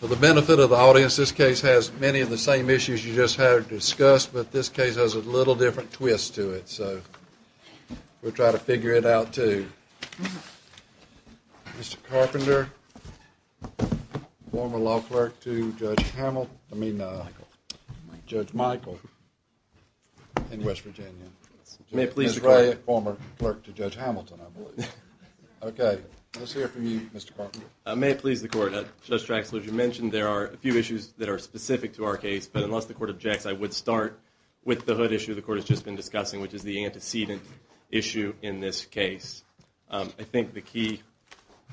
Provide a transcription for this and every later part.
For the benefit of the audience, this case has many of the same issues you just had discussed, but this case has a little different twist to it. So we'll try to figure it out, too. Mr. Carpenter, former law clerk to Judge Michael in West Virginia. May it please the Court. Ms. Ray, former clerk to Judge Hamilton, I believe. Okay, let's hear from you, Mr. Carpenter. May it please the Court. Judge Traxler, as you mentioned, there are a few issues that are specific to our case. But unless the Court objects, I would start with the hood issue the Court has just been discussing, which is the antecedent issue in this case. I think the key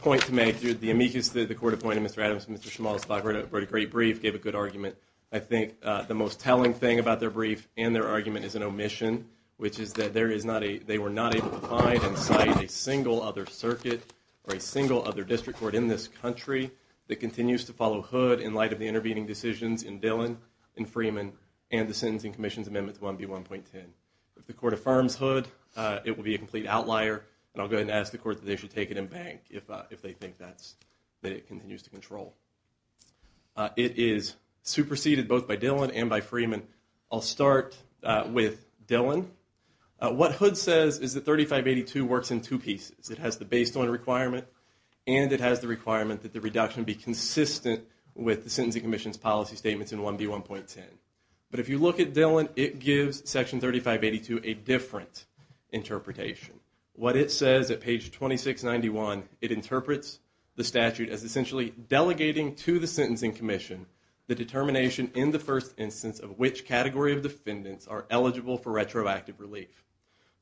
point to make here, the amicus that the Court appointed Mr. Adams and Mr. Schmalz, who wrote a great brief, gave a good argument. I think the most telling thing about their brief and their argument is an omission, which is that they were not able to find and cite a single other circuit or a single other district court in this country that continues to follow hood in light of the intervening decisions in Dillon and Freeman and the Sentencing Commission's Amendment 1B1.10. If the Court affirms hood, it will be a complete outlier, and I'll go ahead and ask the Court that they should take it in bank if they think that it continues to control. It is superseded both by Dillon and by Freeman. I'll start with Dillon. What hood says is that 3582 works in two pieces. It has the baseline requirement and it has the requirement that the reduction be consistent with the Sentencing Commission's policy statements in 1B1.10. But if you look at Dillon, it gives Section 3582 a different interpretation. What it says at page 2691, it interprets the statute as essentially delegating to the Sentencing Commission the determination in the first instance of which category of defendants are eligible for retroactive relief.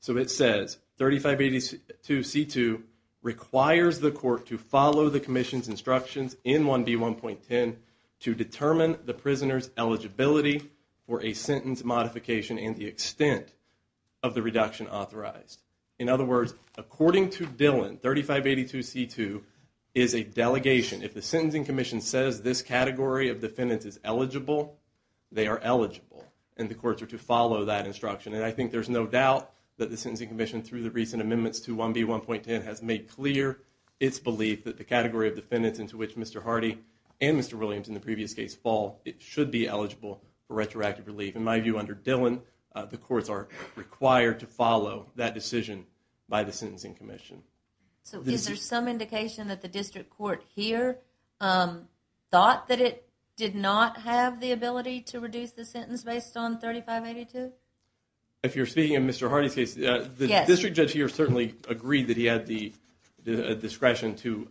So it says 3582C2 requires the Court to follow the Commission's instructions in 1B1.10 to determine the prisoner's eligibility for a sentence modification and the extent of the reduction authorized. In other words, according to Dillon, 3582C2 is a delegation. If the Sentencing Commission says this category of defendants is eligible, they are eligible. And the Courts are to follow that instruction. And I think there's no doubt that the Sentencing Commission, through the recent amendments to 1B1.10, has made clear its belief that the category of defendants into which Mr. Hardy and Mr. Williams, in the previous case, fall, it should be eligible for retroactive relief. In my view, under Dillon, the Courts are required to follow that decision by the Sentencing Commission. So is there some indication that the District Court here thought that it did not have the ability to reduce the sentence based on 3582? If you're speaking of Mr. Hardy's case, the District Judge here certainly agreed that he had the discretion to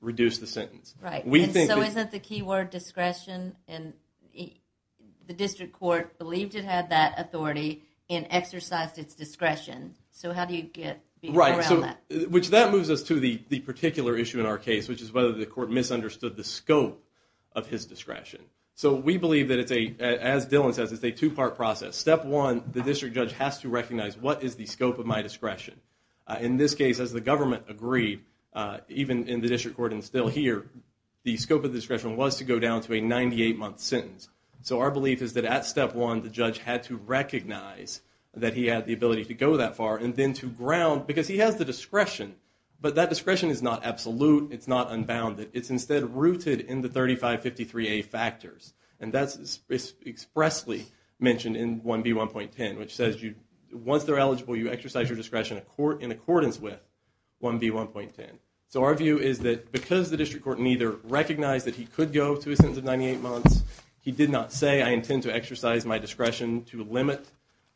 reduce the sentence. Right. And so isn't the key word discretion? And the District Court believed it had that authority and exercised its discretion. So how do you get around that? Right. So that moves us to the particular issue in our case, which is whether the Court misunderstood the scope of his discretion. So we believe that, as Dillon says, it's a two-part process. Step one, the District Judge has to recognize what is the scope of my discretion. In this case, as the government agreed, even in the District Court and still here, the scope of the discretion was to go down to a 98-month sentence. So our belief is that at step one, the Judge had to recognize that he had the ability to go that far and then to ground, because he has the discretion, but that discretion is not absolute, it's not unbounded. It's instead rooted in the 3553A factors, and that's expressly mentioned in 1B1.10, which says once they're eligible, you exercise your discretion in accordance with 1B1.10. So our view is that because the District Court neither recognized that he could go to a sentence of 98 months, he did not say, I intend to exercise my discretion to limit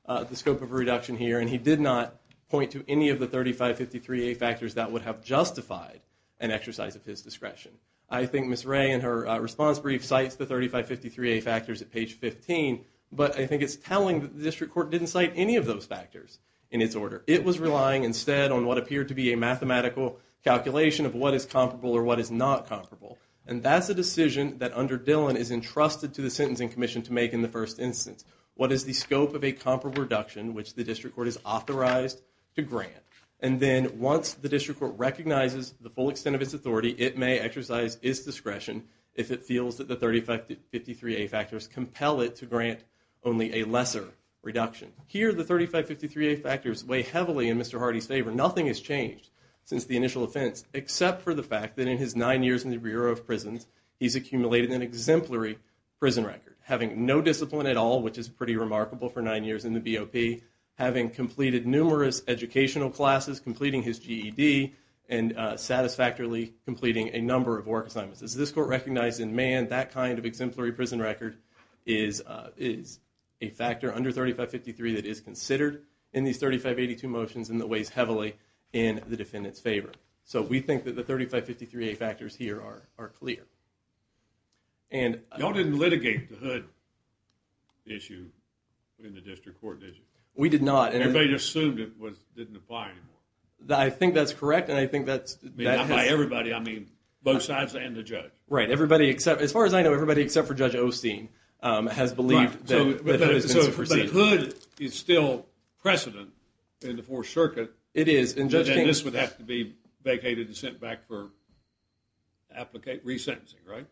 the scope of a reduction here, and he did not point to any of the 3553A factors that would have justified an exercise of his discretion. I think Ms. Ray, in her response brief, cites the 3553A factors at page 15, but I think it's telling that the District Court didn't cite any of those factors in its order. It was relying instead on what appeared to be a mathematical calculation of what is comparable or what is not comparable, and that's a decision that under Dillon is entrusted to the Sentencing Commission to make in the first instance. What is the scope of a comparable reduction which the District Court is authorized to grant? And then once the District Court recognizes the full extent of its authority, it may exercise its discretion if it feels that the 3553A factors compel it to grant only a lesser reduction. Here, the 3553A factors weigh heavily in Mr. Hardy's favor. Nothing has changed since the initial offense except for the fact that in his nine years in the Bureau of Prisons, he's accumulated an exemplary prison record, having no discipline at all, which is pretty remarkable for nine years in the BOP, having completed numerous educational classes, completing his GED, and satisfactorily completing a number of work assignments. As this Court recognized in Mann, that kind of exemplary prison record is a factor under 3553 that is considered in these 3582 motions and that weighs heavily in the defendant's favor. So we think that the 3553A factors here are clear. Y'all didn't litigate the hood issue in the District Court, did you? We did not. Everybody just assumed it didn't apply anymore. I think that's correct, and I think that's... By everybody, I mean both sides and the judge. Right. As far as I know, everybody except for Judge Osteen has believed that the hood has been superseded. But the hood is still precedent in the Fourth Circuit. It is. And this would have to be vacated and sent back for re-sentencing, right?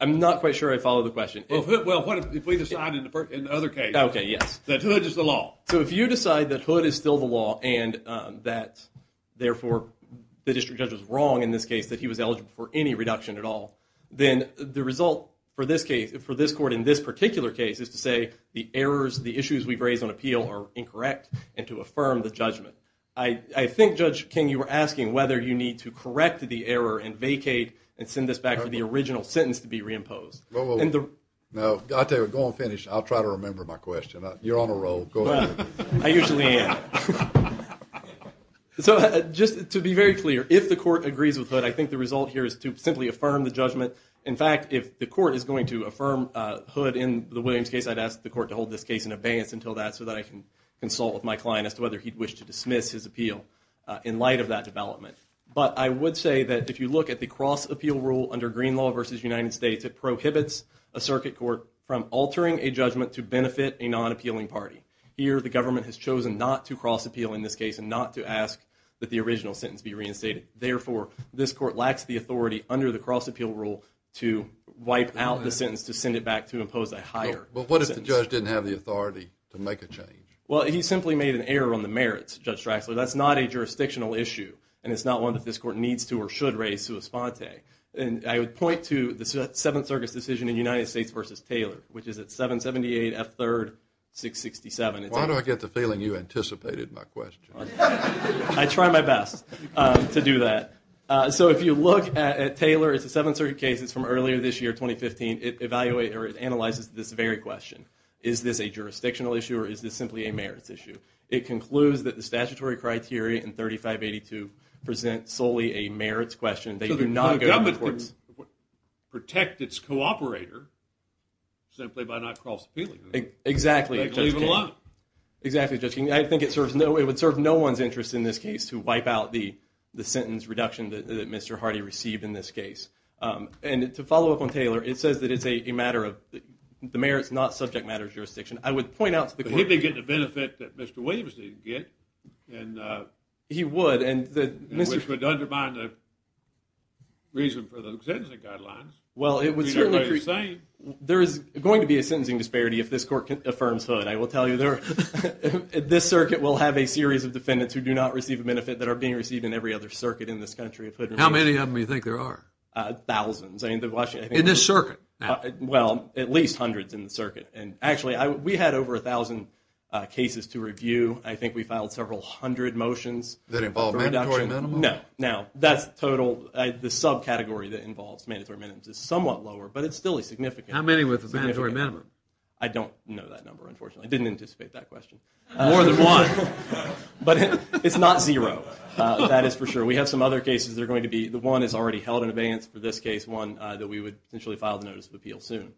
I'm not quite sure I follow the question. Well, if we decide in the other case that hood is the law. And that, therefore, the District Judge was wrong in this case that he was eligible for any reduction at all. Then the result for this case, for this Court in this particular case, is to say the errors, the issues we've raised on appeal are incorrect and to affirm the judgment. I think, Judge King, you were asking whether you need to correct the error and vacate and send this back for the original sentence to be re-imposed. Well, I'll tell you what, go on and finish. I'll try to remember my question. You're on a roll. Go ahead. I usually am. So just to be very clear, if the Court agrees with hood, I think the result here is to simply affirm the judgment. In fact, if the Court is going to affirm hood in the Williams case, I'd ask the Court to hold this case in abeyance until that so that I can consult with my client as to whether he'd wish to dismiss his appeal in light of that development. But I would say that if you look at the cross-appeal rule under Green law versus United States, it prohibits a circuit court from altering a judgment to benefit a non-appealing party. Here, the government has chosen not to cross-appeal in this case and not to ask that the original sentence be reinstated. Therefore, this Court lacks the authority under the cross-appeal rule to wipe out the sentence to send it back to impose a higher sentence. But what if the judge didn't have the authority to make a change? Well, he simply made an error on the merits, Judge Draxler. That's not a jurisdictional issue, and it's not one that this Court needs to or should raise sua sponte. And I would point to the Seventh Circuit's decision in United States versus Taylor, which is at 778 F3rd 667. Why do I get the feeling you anticipated my question? I try my best to do that. So if you look at Taylor, it's a Seventh Circuit case. It's from earlier this year, 2015. It analyzes this very question. Is this a jurisdictional issue, or is this simply a merits issue? It concludes that the statutory criteria in 3582 present solely a merits question. They do not go to the courts. So the government can protect its cooperator simply by not cross-appealing. Exactly, Judge King. They can leave it alone. Exactly, Judge King. I think it would serve no one's interest in this case to wipe out the sentence reduction that Mr. Hardy received in this case. And to follow up on Taylor, it says that it's a matter of the merits, not subject matter jurisdiction. I would point out to the Court. But he'd be getting the benefit that Mr. Williams didn't get. He would. Which would undermine the reason for the sentencing guidelines. Well, it would certainly. There is going to be a sentencing disparity if this Court affirms Hood. I will tell you, this circuit will have a series of defendants who do not receive a benefit that are being received in every other circuit in this country. How many of them do you think there are? Thousands. In this circuit? Well, at least hundreds in the circuit. Actually, we had over 1,000 cases to review. I think we filed several hundred motions. That involve mandatory minimum? No. Now, that's total. The subcategory that involves mandatory minimums is somewhat lower, but it's still a significant number. How many with a mandatory minimum? I don't know that number, unfortunately. I didn't anticipate that question. More than one. But it's not zero. That is for sure. We have some other cases that are going to be. The one is already held in abeyance for this case, one that we would potentially file the Notice of Appeal soon,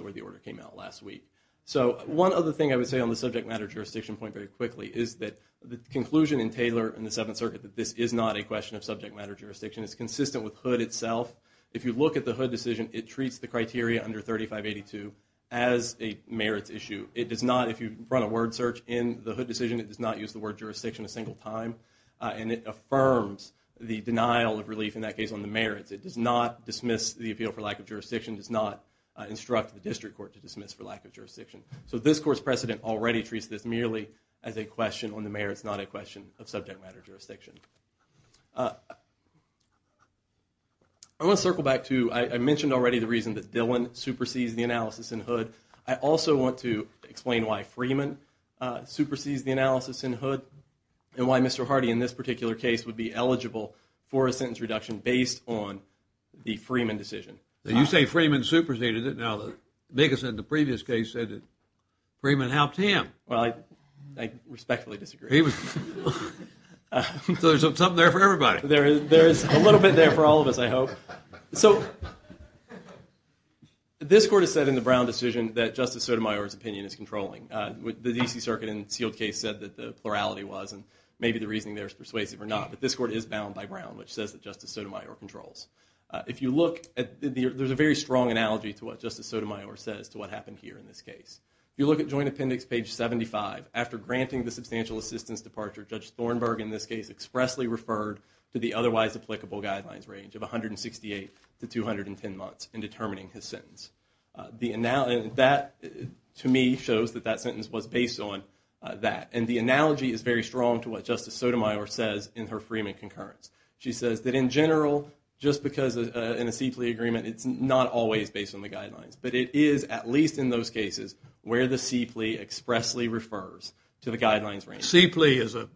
where the order came out last week. So one other thing I would say on the subject matter jurisdiction point very quickly is that the conclusion in Taylor in the Seventh Circuit that this is not a question of subject matter jurisdiction is consistent with Hood itself. If you look at the Hood decision, it treats the criteria under 3582 as a merits issue. It does not, if you run a word search in the Hood decision, it does not use the word jurisdiction a single time. And it affirms the denial of relief in that case on the merits. It does not dismiss the appeal for lack of jurisdiction, does not instruct the district court to dismiss for lack of jurisdiction. So this court's precedent already treats this merely as a question on the merits, not a question of subject matter jurisdiction. I want to circle back to, I mentioned already the reason that Dillon supersedes the analysis in Hood. I also want to explain why Freeman supersedes the analysis in Hood and why Mr. Hardy in this particular case would be eligible for a sentence reduction based on the Freeman decision. You say Freeman superseded it. Now, the biggest in the previous case said that Freeman helped him. Well, I respectfully disagree. So there's something there for everybody. There is a little bit there for all of us, I hope. So this court has said in the Brown decision that Justice Sotomayor's opinion is controlling. The D.C. Circuit in the sealed case said that the plurality was, and maybe the reasoning there is persuasive or not, but this court is bound by Brown, which says that Justice Sotomayor controls. If you look, there's a very strong analogy to what Justice Sotomayor says to what happened here in this case. If you look at Joint Appendix page 75, after granting the substantial assistance departure, Judge Thornburg in this case expressly referred to the otherwise applicable guidelines range of 168 to 210 months in determining his sentence. That, to me, shows that that sentence was based on that. And the analogy is very strong to what Justice Sotomayor says in her Freeman concurrence. She says that in general, just because in a C plea agreement, it's not always based on the guidelines. But it is, at least in those cases, where the C plea expressly refers to the guidelines range. C plea is an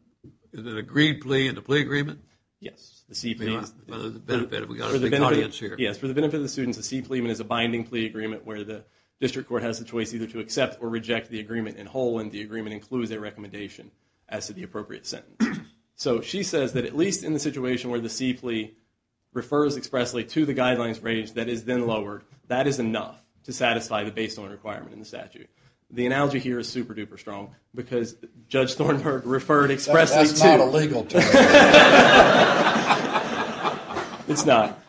agreed plea in the plea agreement? Yes. For the benefit of the students, the C plea is a binding plea agreement where the district court has the choice either to accept or reject the agreement in whole when the agreement includes a recommendation as to the appropriate sentence. So she says that at least in the situation where the C plea refers expressly to the guidelines range that is then lowered, that is enough to satisfy the baseline requirement in the statute. The analogy here is super-duper strong because Judge Thornburg referred expressly to- That's not a legal term. It's not.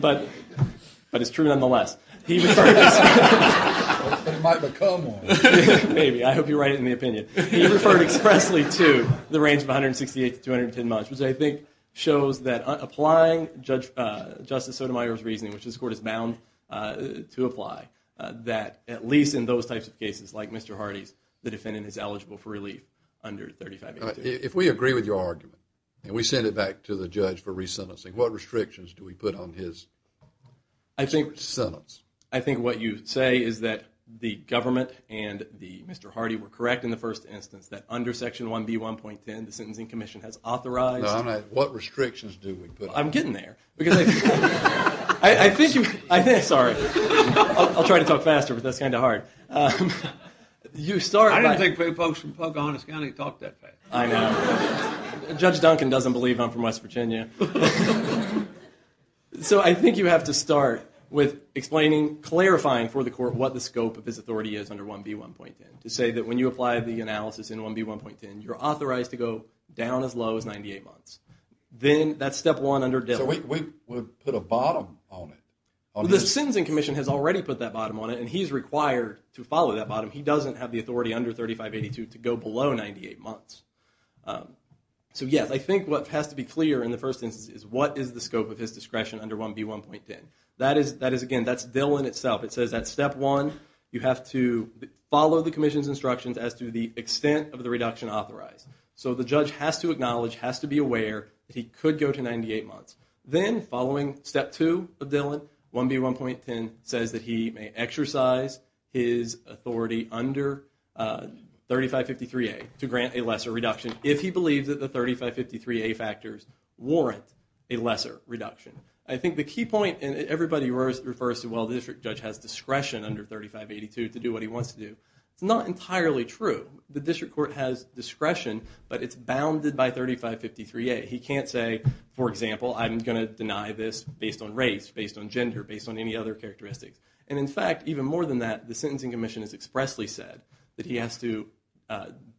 But it's true nonetheless. He referred expressly- It might become one. Maybe. I hope you're right in the opinion. He referred expressly to the range of 168 to 210 months, which I think shows that applying Justice Sotomayor's reasoning, which this court is bound to apply, that at least in those types of cases, like Mr. Hardy's, the defendant is eligible for relief under 3582. If we agree with your argument, and we send it back to the judge for re-sentencing, what restrictions do we put on his sentence? I think what you say is that the government and Mr. Hardy were correct in the first instance that under Section 1B1.10, the Sentencing Commission has authorized- What restrictions do we put on him? I'm getting there. Sorry. I'll try to talk faster, but that's kind of hard. I don't think folks from Pocahontas County talk that fast. I know. Judge Duncan doesn't believe I'm from West Virginia. So I think you have to start with explaining, clarifying for the court what the scope of his authority is under 1B1.10, to say that when you apply the analysis in 1B1.10, you're authorized to go down as low as 98 months. Then that's Step 1 under Dillon. So we would put a bottom on it. The Sentencing Commission has already put that bottom on it, and he's required to follow that bottom. He doesn't have the authority under 3582 to go below 98 months. So, yes, I think what has to be clear in the first instance is what is the scope of his discretion under 1B1.10. That is, again, that's Dillon itself. It says that Step 1, you have to follow the commission's instructions as to the extent of the reduction authorized. So the judge has to acknowledge, has to be aware, that he could go to 98 months. Then, following Step 2 of Dillon, 1B1.10 says that he may exercise his authority under 3553A to grant a lesser reduction, if he believes that the 3553A factors warrant a lesser reduction. I think the key point, and everybody refers to, well, the district judge has discretion under 3582 to do what he wants to do. It's not entirely true. The district court has discretion, but it's bounded by 3553A. He can't say, for example, I'm going to deny this based on race, based on gender, based on any other characteristics. And, in fact, even more than that, the Sentencing Commission has expressly said that he has to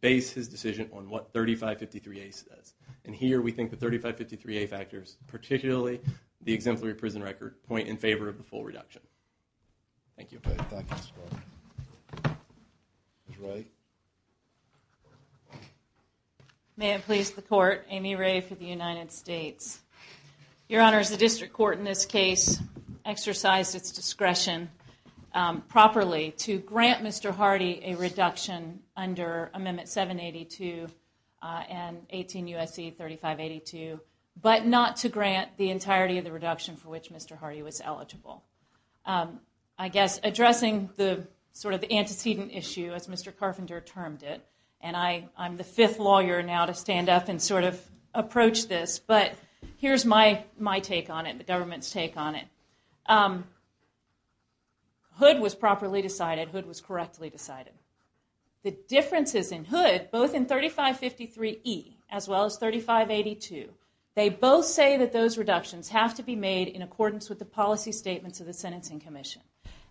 base his decision on what 3553A says. And here we think the 3553A factors, particularly the exemplary prison record, point in favor of the full reduction. Thank you. May it please the Court, Amy Ray for the United States. Your Honor, the district court in this case exercised its discretion properly to grant Mr. Hardy a reduction under Amendment 782 and 18 U.S.C. 3582, but not to grant the entirety of the reduction for which Mr. Hardy was eligible. I guess addressing the sort of antecedent issue, as Mr. Carpenter termed it, and I'm the fifth lawyer now to stand up and sort of approach this, but here's my take on it, the government's take on it. Hood was properly decided. Hood was correctly decided. The differences in Hood, both in 3553E as well as 3582, they both say that those reductions have to be made in accordance with the policy statements of the Sentencing Commission.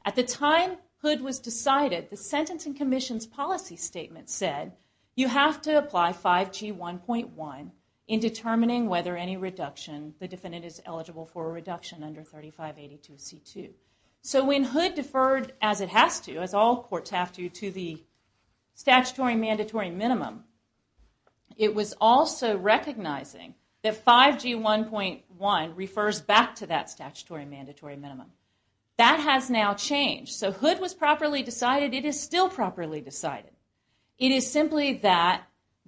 At the time Hood was decided, the Sentencing Commission's policy statement said you have to apply 5G1.1 in determining whether any reduction, the defendant is eligible for a reduction under 3582C2. So when Hood deferred as it has to, as all courts have to, to the statutory mandatory minimum, it was also recognizing that 5G1.1 refers back to that statutory mandatory minimum. That has now changed. So Hood was properly decided. It is still properly decided. It is simply that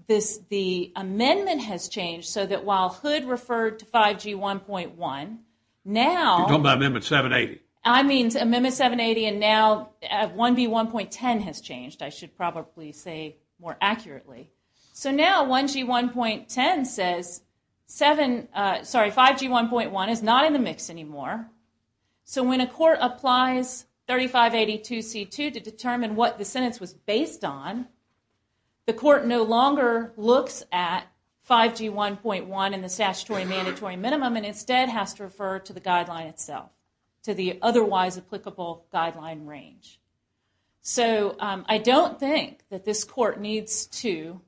the amendment has changed so that while Hood referred to 5G1.1, now... You're talking about Amendment 780. I mean Amendment 780 and now 1B1.10 has changed, I should probably say more accurately. So now 5G1.1 is not in the mix anymore. So when a court applies 3582C2 to determine what the sentence was based on, the court no longer looks at 5G1.1 in the statutory mandatory minimum and instead has to refer to the guideline itself, to the otherwise applicable guideline range. So I don't think that this court needs to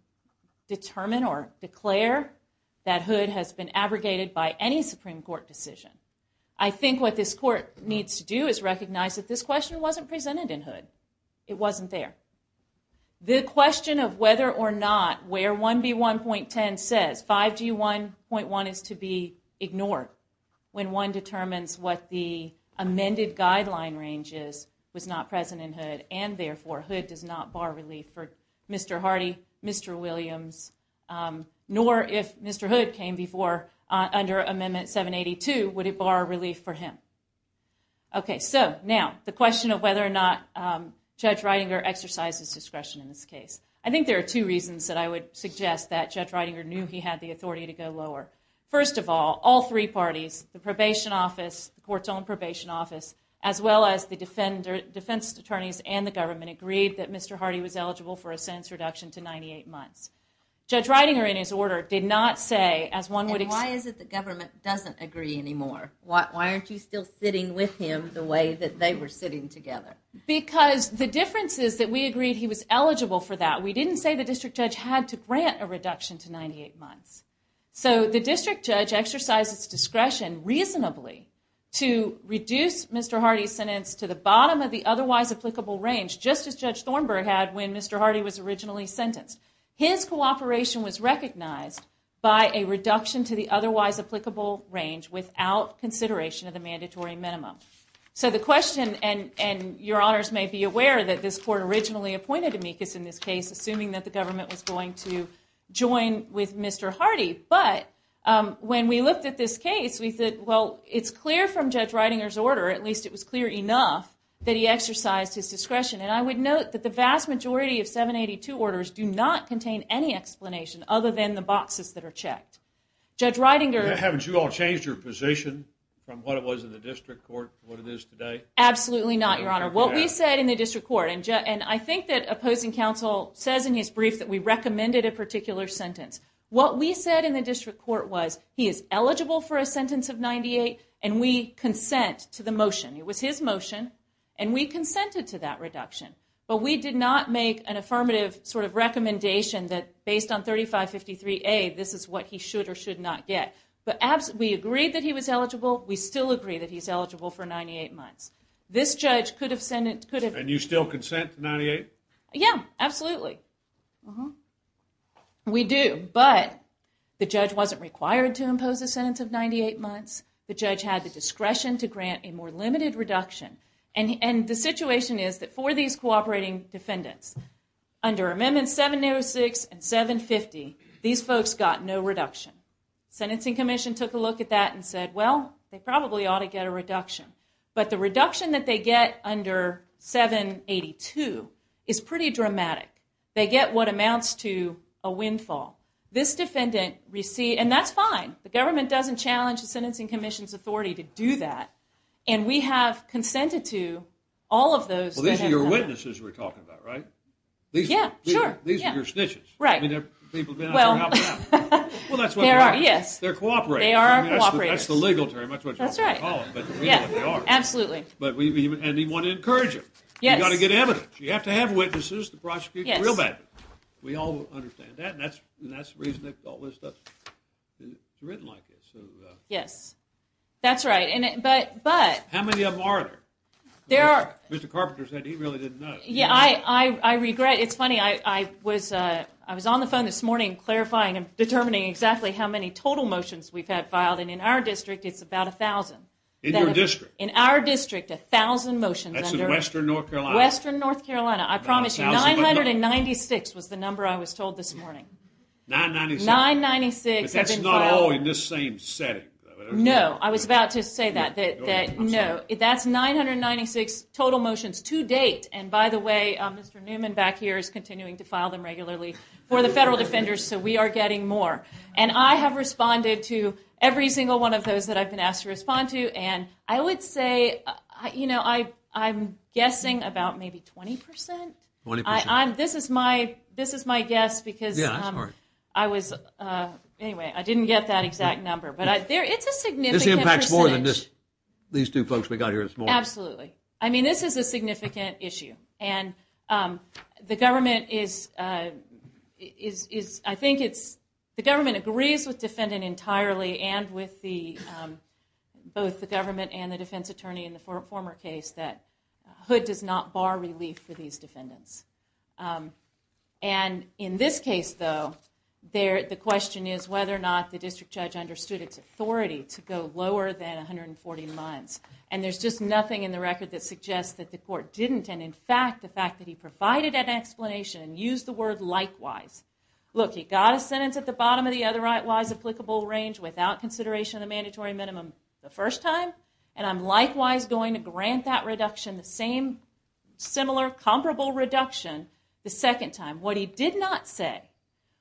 determine or declare that Hood has been abrogated by any Supreme Court decision. I think what this court needs to do is recognize that this question wasn't presented in Hood. It wasn't there. The question of whether or not where 1B1.10 says 5G1.1 is to be ignored when one determines what the amended guideline range is was not present in Hood, and therefore Hood does not bar relief for Mr. Hardy, Mr. Williams, nor if Mr. Hood came before under Amendment 782, would it bar relief for him. Okay, so now the question of whether or not Judge Ridinger exercises discretion in this case. I think there are two reasons that I would suggest that Judge Ridinger knew he had the authority to go lower. First of all, all three parties, the probation office, the court's own probation office, as well as the defense attorneys and the government, agreed that Mr. Hardy was eligible for a sentence reduction to 98 months. Judge Ridinger, in his order, did not say, as one would expect... And why is it the government doesn't agree anymore? Why aren't you still sitting with him the way that they were sitting together? Because the difference is that we agreed he was eligible for that. We didn't say the district judge had to grant a reduction to 98 months. So the district judge exercised his discretion reasonably to reduce Mr. Hardy's sentence to the bottom of the otherwise applicable range, just as Judge Thornburg had when Mr. Hardy was originally sentenced. His cooperation was recognized by a reduction to the otherwise applicable range without consideration of the mandatory minimum. So the question, and your honors may be aware that this court originally appointed Amicus in this case, assuming that the government was going to join with Mr. Hardy. But when we looked at this case, we said, well, it's clear from Judge Ridinger's order, at least it was clear enough, that he exercised his discretion. And I would note that the vast majority of 782 orders do not contain any explanation other than the boxes that are checked. Judge Ridinger... Haven't you all changed your position from what it was in the district court to what it is today? Absolutely not, your honor. What we said in the district court, and I think that opposing counsel says in his brief that we recommended a particular sentence. What we said in the district court was he is eligible for a sentence of 98, and we consent to the motion. It was his motion, and we consented to that reduction. But we did not make an affirmative sort of recommendation that based on 3553A, this is what he should or should not get. But we agreed that he was eligible. We still agree that he's eligible for 98 months. This judge could have... And you still consent to 98? Yeah, absolutely. We do. But the judge wasn't required to impose a sentence of 98 months. The judge had the discretion to grant a more limited reduction. And the situation is that for these cooperating defendants, under Amendments 706 and 750, these folks got no reduction. The Sentencing Commission took a look at that and said, well, they probably ought to get a reduction. But the reduction that they get under 782 is pretty dramatic. They get what amounts to a windfall. This defendant received... And that's fine. The government doesn't challenge the Sentencing Commission's authority to do that. And we have consented to all of those... Well, these are your witnesses we're talking about, right? Yeah, sure. These are your snitches. Right. I mean, they're cooperating. They are cooperating. That's the legal term. That's right. But we know what they are. Absolutely. And we want to encourage them. Yes. You've got to get evidence. You have to have witnesses to prosecute the real bad guys. Yes. We all understand that. And that's the reason that all this stuff is written like this. Yes. That's right. But... How many of them are there? There are... Mr. Carpenter said he really didn't know. Yeah, I regret... It's funny, I was on the phone this morning clarifying and determining exactly how many total motions we've had filed. And in our district, it's about 1,000. In your district? In our district, 1,000 motions under... That's in western North Carolina? Western North Carolina. I promise you, 996 was the number I was told this morning. 996? 996 have been filed. But that's not all in the same setting. No, I was about to say that. No, that's 996 total motions to date. And by the way, Mr. Newman back here is continuing to file them regularly for the federal defenders, so we are getting more. And I have responded to every single one of those that I've been asked to respond to. And I would say, you know, I'm guessing about maybe 20%. 20%? This is my guess because I was... Anyway, I didn't get that exact number. But it's a significant percentage. This impacts more than these two folks we got here this morning? Absolutely. I mean, this is a significant issue. And the government is, I think it's... and with both the government and the defense attorney in the former case that Hood does not bar relief for these defendants. And in this case, though, the question is whether or not the district judge understood its authority to go lower than 140 months. And there's just nothing in the record that suggests that the court didn't. And, in fact, the fact that he provided an explanation, used the word likewise. Look, he got a sentence at the bottom of the otherwise applicable range without consideration of the mandatory minimum the first time. And I'm likewise going to grant that reduction, the same similar comparable reduction the second time. What he did not say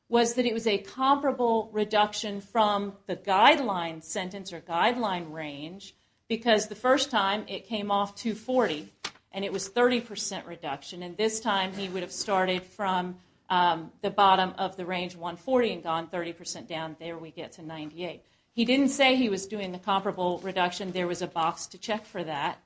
was that it was a comparable reduction from the guideline sentence or guideline range because the first time it came off 240 and it was 30% reduction. And this time he would have started from the bottom of the range 140 and gone 30% down, there we get to 98. He didn't say he was doing the comparable reduction. There was a box to check for that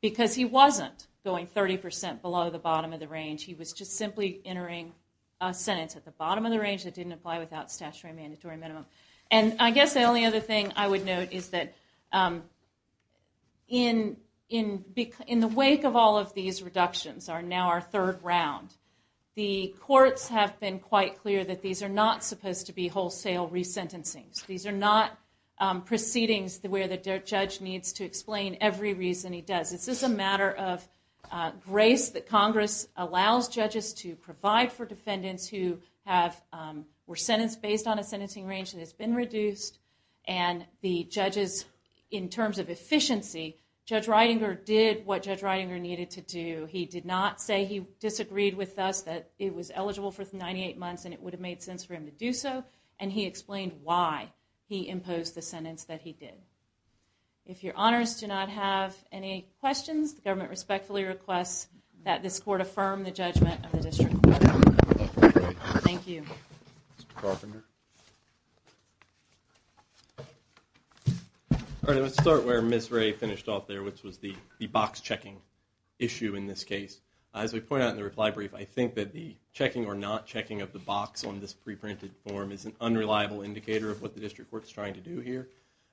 because he wasn't going 30% below the bottom of the range. He was just simply entering a sentence at the bottom of the range that didn't apply without statutory mandatory minimum. And I guess the only other thing I would note is that in the wake of all of these reductions, now our third round, the courts have been quite clear that these are not supposed to be wholesale resentencings. These are not proceedings where the judge needs to explain every reason he does. It's just a matter of grace that Congress allows judges to provide for defendants who were sentenced based on a sentencing range and the judges, in terms of efficiency, Judge Reidinger did what Judge Reidinger needed to do. He did not say he disagreed with us that it was eligible for 98 months and it would have made sense for him to do so and he explained why he imposed the sentence that he did. If your honors do not have any questions, the government respectfully requests that this court affirm the judgment of the district court. Thank you. Mr. Carpenter. All right. Let's start where Ms. Ray finished off there, which was the box checking issue in this case. As we point out in the reply brief, I think that the checking or not checking of the box on this preprinted form is an unreliable indicator of what the district court is trying to do here.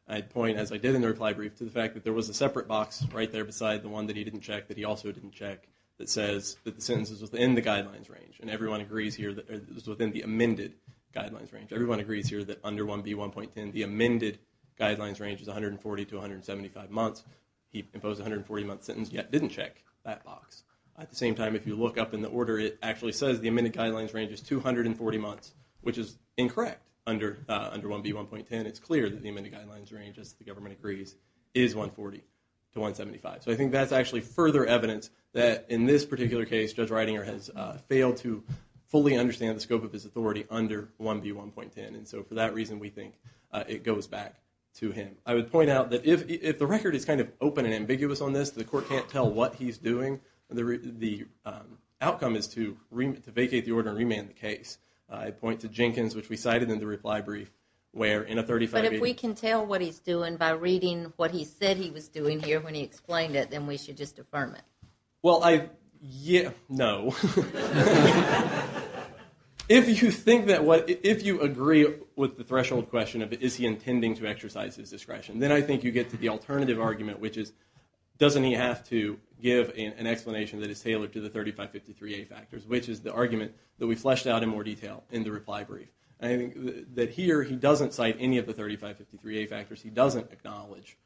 I'd point, as I did in the reply brief, to the fact that there was a separate box right there beside the one that he didn't check that he also didn't check that says that the sentence is within the guidelines range and everyone agrees here that it was within the amended guidelines range. Everyone agrees here that under 1B1.10, the amended guidelines range is 140 to 175 months. He imposed a 140-month sentence yet didn't check that box. At the same time, if you look up in the order, it actually says the amended guidelines range is 240 months, which is incorrect under 1B1.10. It's clear that the amended guidelines range, as the government agrees, is 140 to 175. So I think that's actually further evidence that in this particular case, Judge Reidinger has failed to fully understand the scope of his authority under 1B1.10. And so for that reason, we think it goes back to him. I would point out that if the record is kind of open and ambiguous on this, the court can't tell what he's doing. The outcome is to vacate the order and remand the case. I'd point to Jenkins, which we cited in the reply brief, where in a 35-page... But if we can tell what he's doing by reading what he said he was doing here when he explained it, then we should just affirm it. No. If you agree with the threshold question of, is he intending to exercise his discretion, then I think you get to the alternative argument, which is, doesn't he have to give an explanation that is tailored to the 3553A factors, which is the argument that we fleshed out in more detail in the reply brief. I think that here, he doesn't cite any of the 3553A factors. He doesn't acknowledge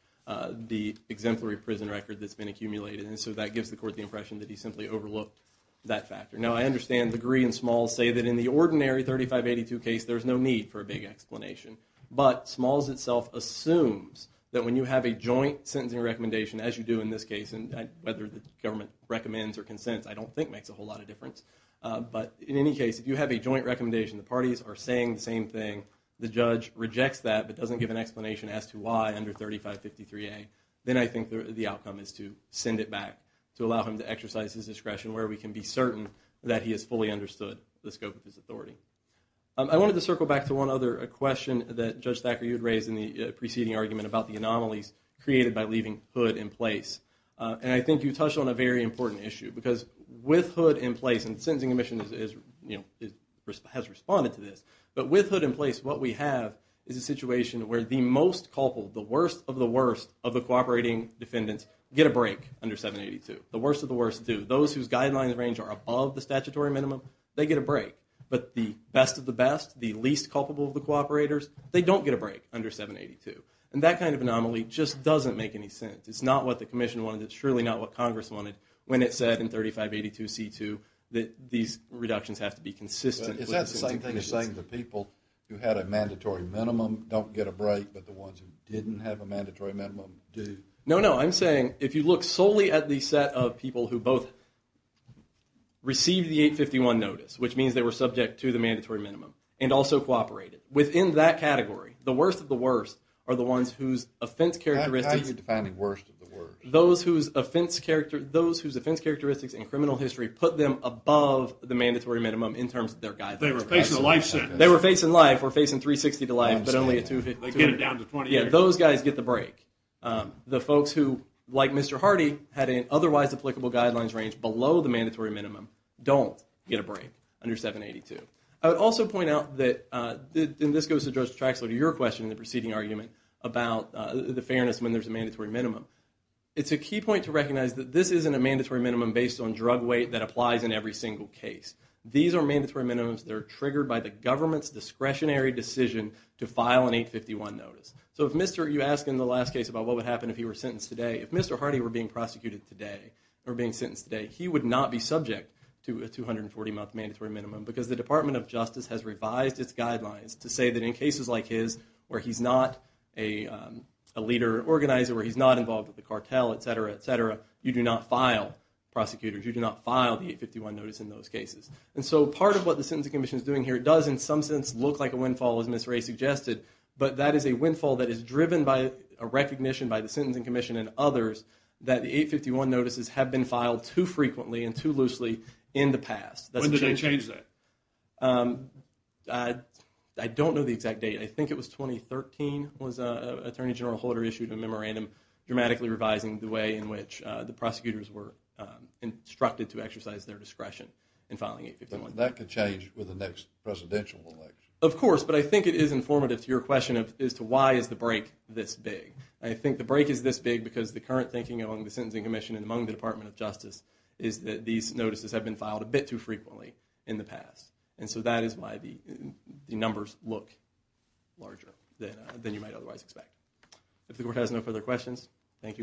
the exemplary prison record that's been accumulated. And so that gives the court the impression that he simply overlooked that factor. Now, I understand Degree and Smalls say that in the ordinary 3582 case, there's no need for a big explanation. But Smalls itself assumes that when you have a joint sentencing recommendation, as you do in this case, and whether the government recommends or consents, I don't think makes a whole lot of difference. But in any case, if you have a joint recommendation, the parties are saying the same thing, the judge rejects that, but doesn't give an explanation as to why under 3553A, then I think the outcome is to send it back to allow him to exercise his discretion, where we can be certain that he has fully understood the scope of his authority. I wanted to circle back to one other question that Judge Thacker, you had raised in the preceding argument about the anomalies created by leaving Hood in place. And I think you touched on a very important issue, because with Hood in place, and the Sentencing Commission has responded to this, but with Hood in place, what we have is a situation where the most culpable, the worst of the worst of the cooperating defendants get a break under 782. The worst of the worst, too. Those whose guidelines range are above the statutory minimum, they get a break. But the best of the best, the least culpable of the cooperators, they don't get a break under 782. And that kind of anomaly just doesn't make any sense. It's not what the Commission wanted. It's surely not what Congress wanted when it said in 3582C2 that these reductions have to be consistent with the Sentencing Commission's. No, no. I'm saying if you look solely at the set of people who both received the 851 notice, which means they were subject to the mandatory minimum, and also cooperated, within that category, the worst of the worst are the ones whose offense characteristics. How are you defining worst of the worst? Those whose offense characteristics in criminal history put them above the mandatory minimum in terms of their guidelines. They were facing life sentence. They were facing life. We're facing 360 to life, but only at 252. Those guys get the break. The folks who, like Mr. Hardy, had an otherwise applicable guidelines range below the mandatory minimum don't get a break under 782. I would also point out that, and this goes to Judge Traxler, to your question in the preceding argument about the fairness when there's a mandatory minimum. It's a key point to recognize that this isn't a mandatory minimum based on drug weight that applies in every single case. These are mandatory minimums that are triggered by the government's discretionary decision to file an 851 notice. So if you asked in the last case about what would happen if he were sentenced today, if Mr. Hardy were being sentenced today, he would not be subject to a 240-month mandatory minimum because the Department of Justice has revised its guidelines to say that in cases like his where he's not a leader or organizer, where he's not involved with the cartel, et cetera, et cetera, you do not file, prosecutors, you do not file the 851 notice in those cases. And so part of what the Sentencing Commission is doing here does in some sense look like a windfall, as Ms. Ray suggested, but that is a windfall that is driven by a recognition by the Sentencing Commission and others that the 851 notices have been filed too frequently and too loosely in the past. When did they change that? I don't know the exact date. I think it was 2013 was Attorney General Holder issued a memorandum dramatically revising the way in which the prosecutors were instructed to exercise their discretion in filing 851. That could change with the next presidential election. Of course, but I think it is informative to your question as to why is the break this big. I think the break is this big because the current thinking among the Sentencing Commission and among the Department of Justice is that these notices have been filed a bit too frequently in the past. And so that is why the numbers look larger than you might otherwise expect. Thank you very much.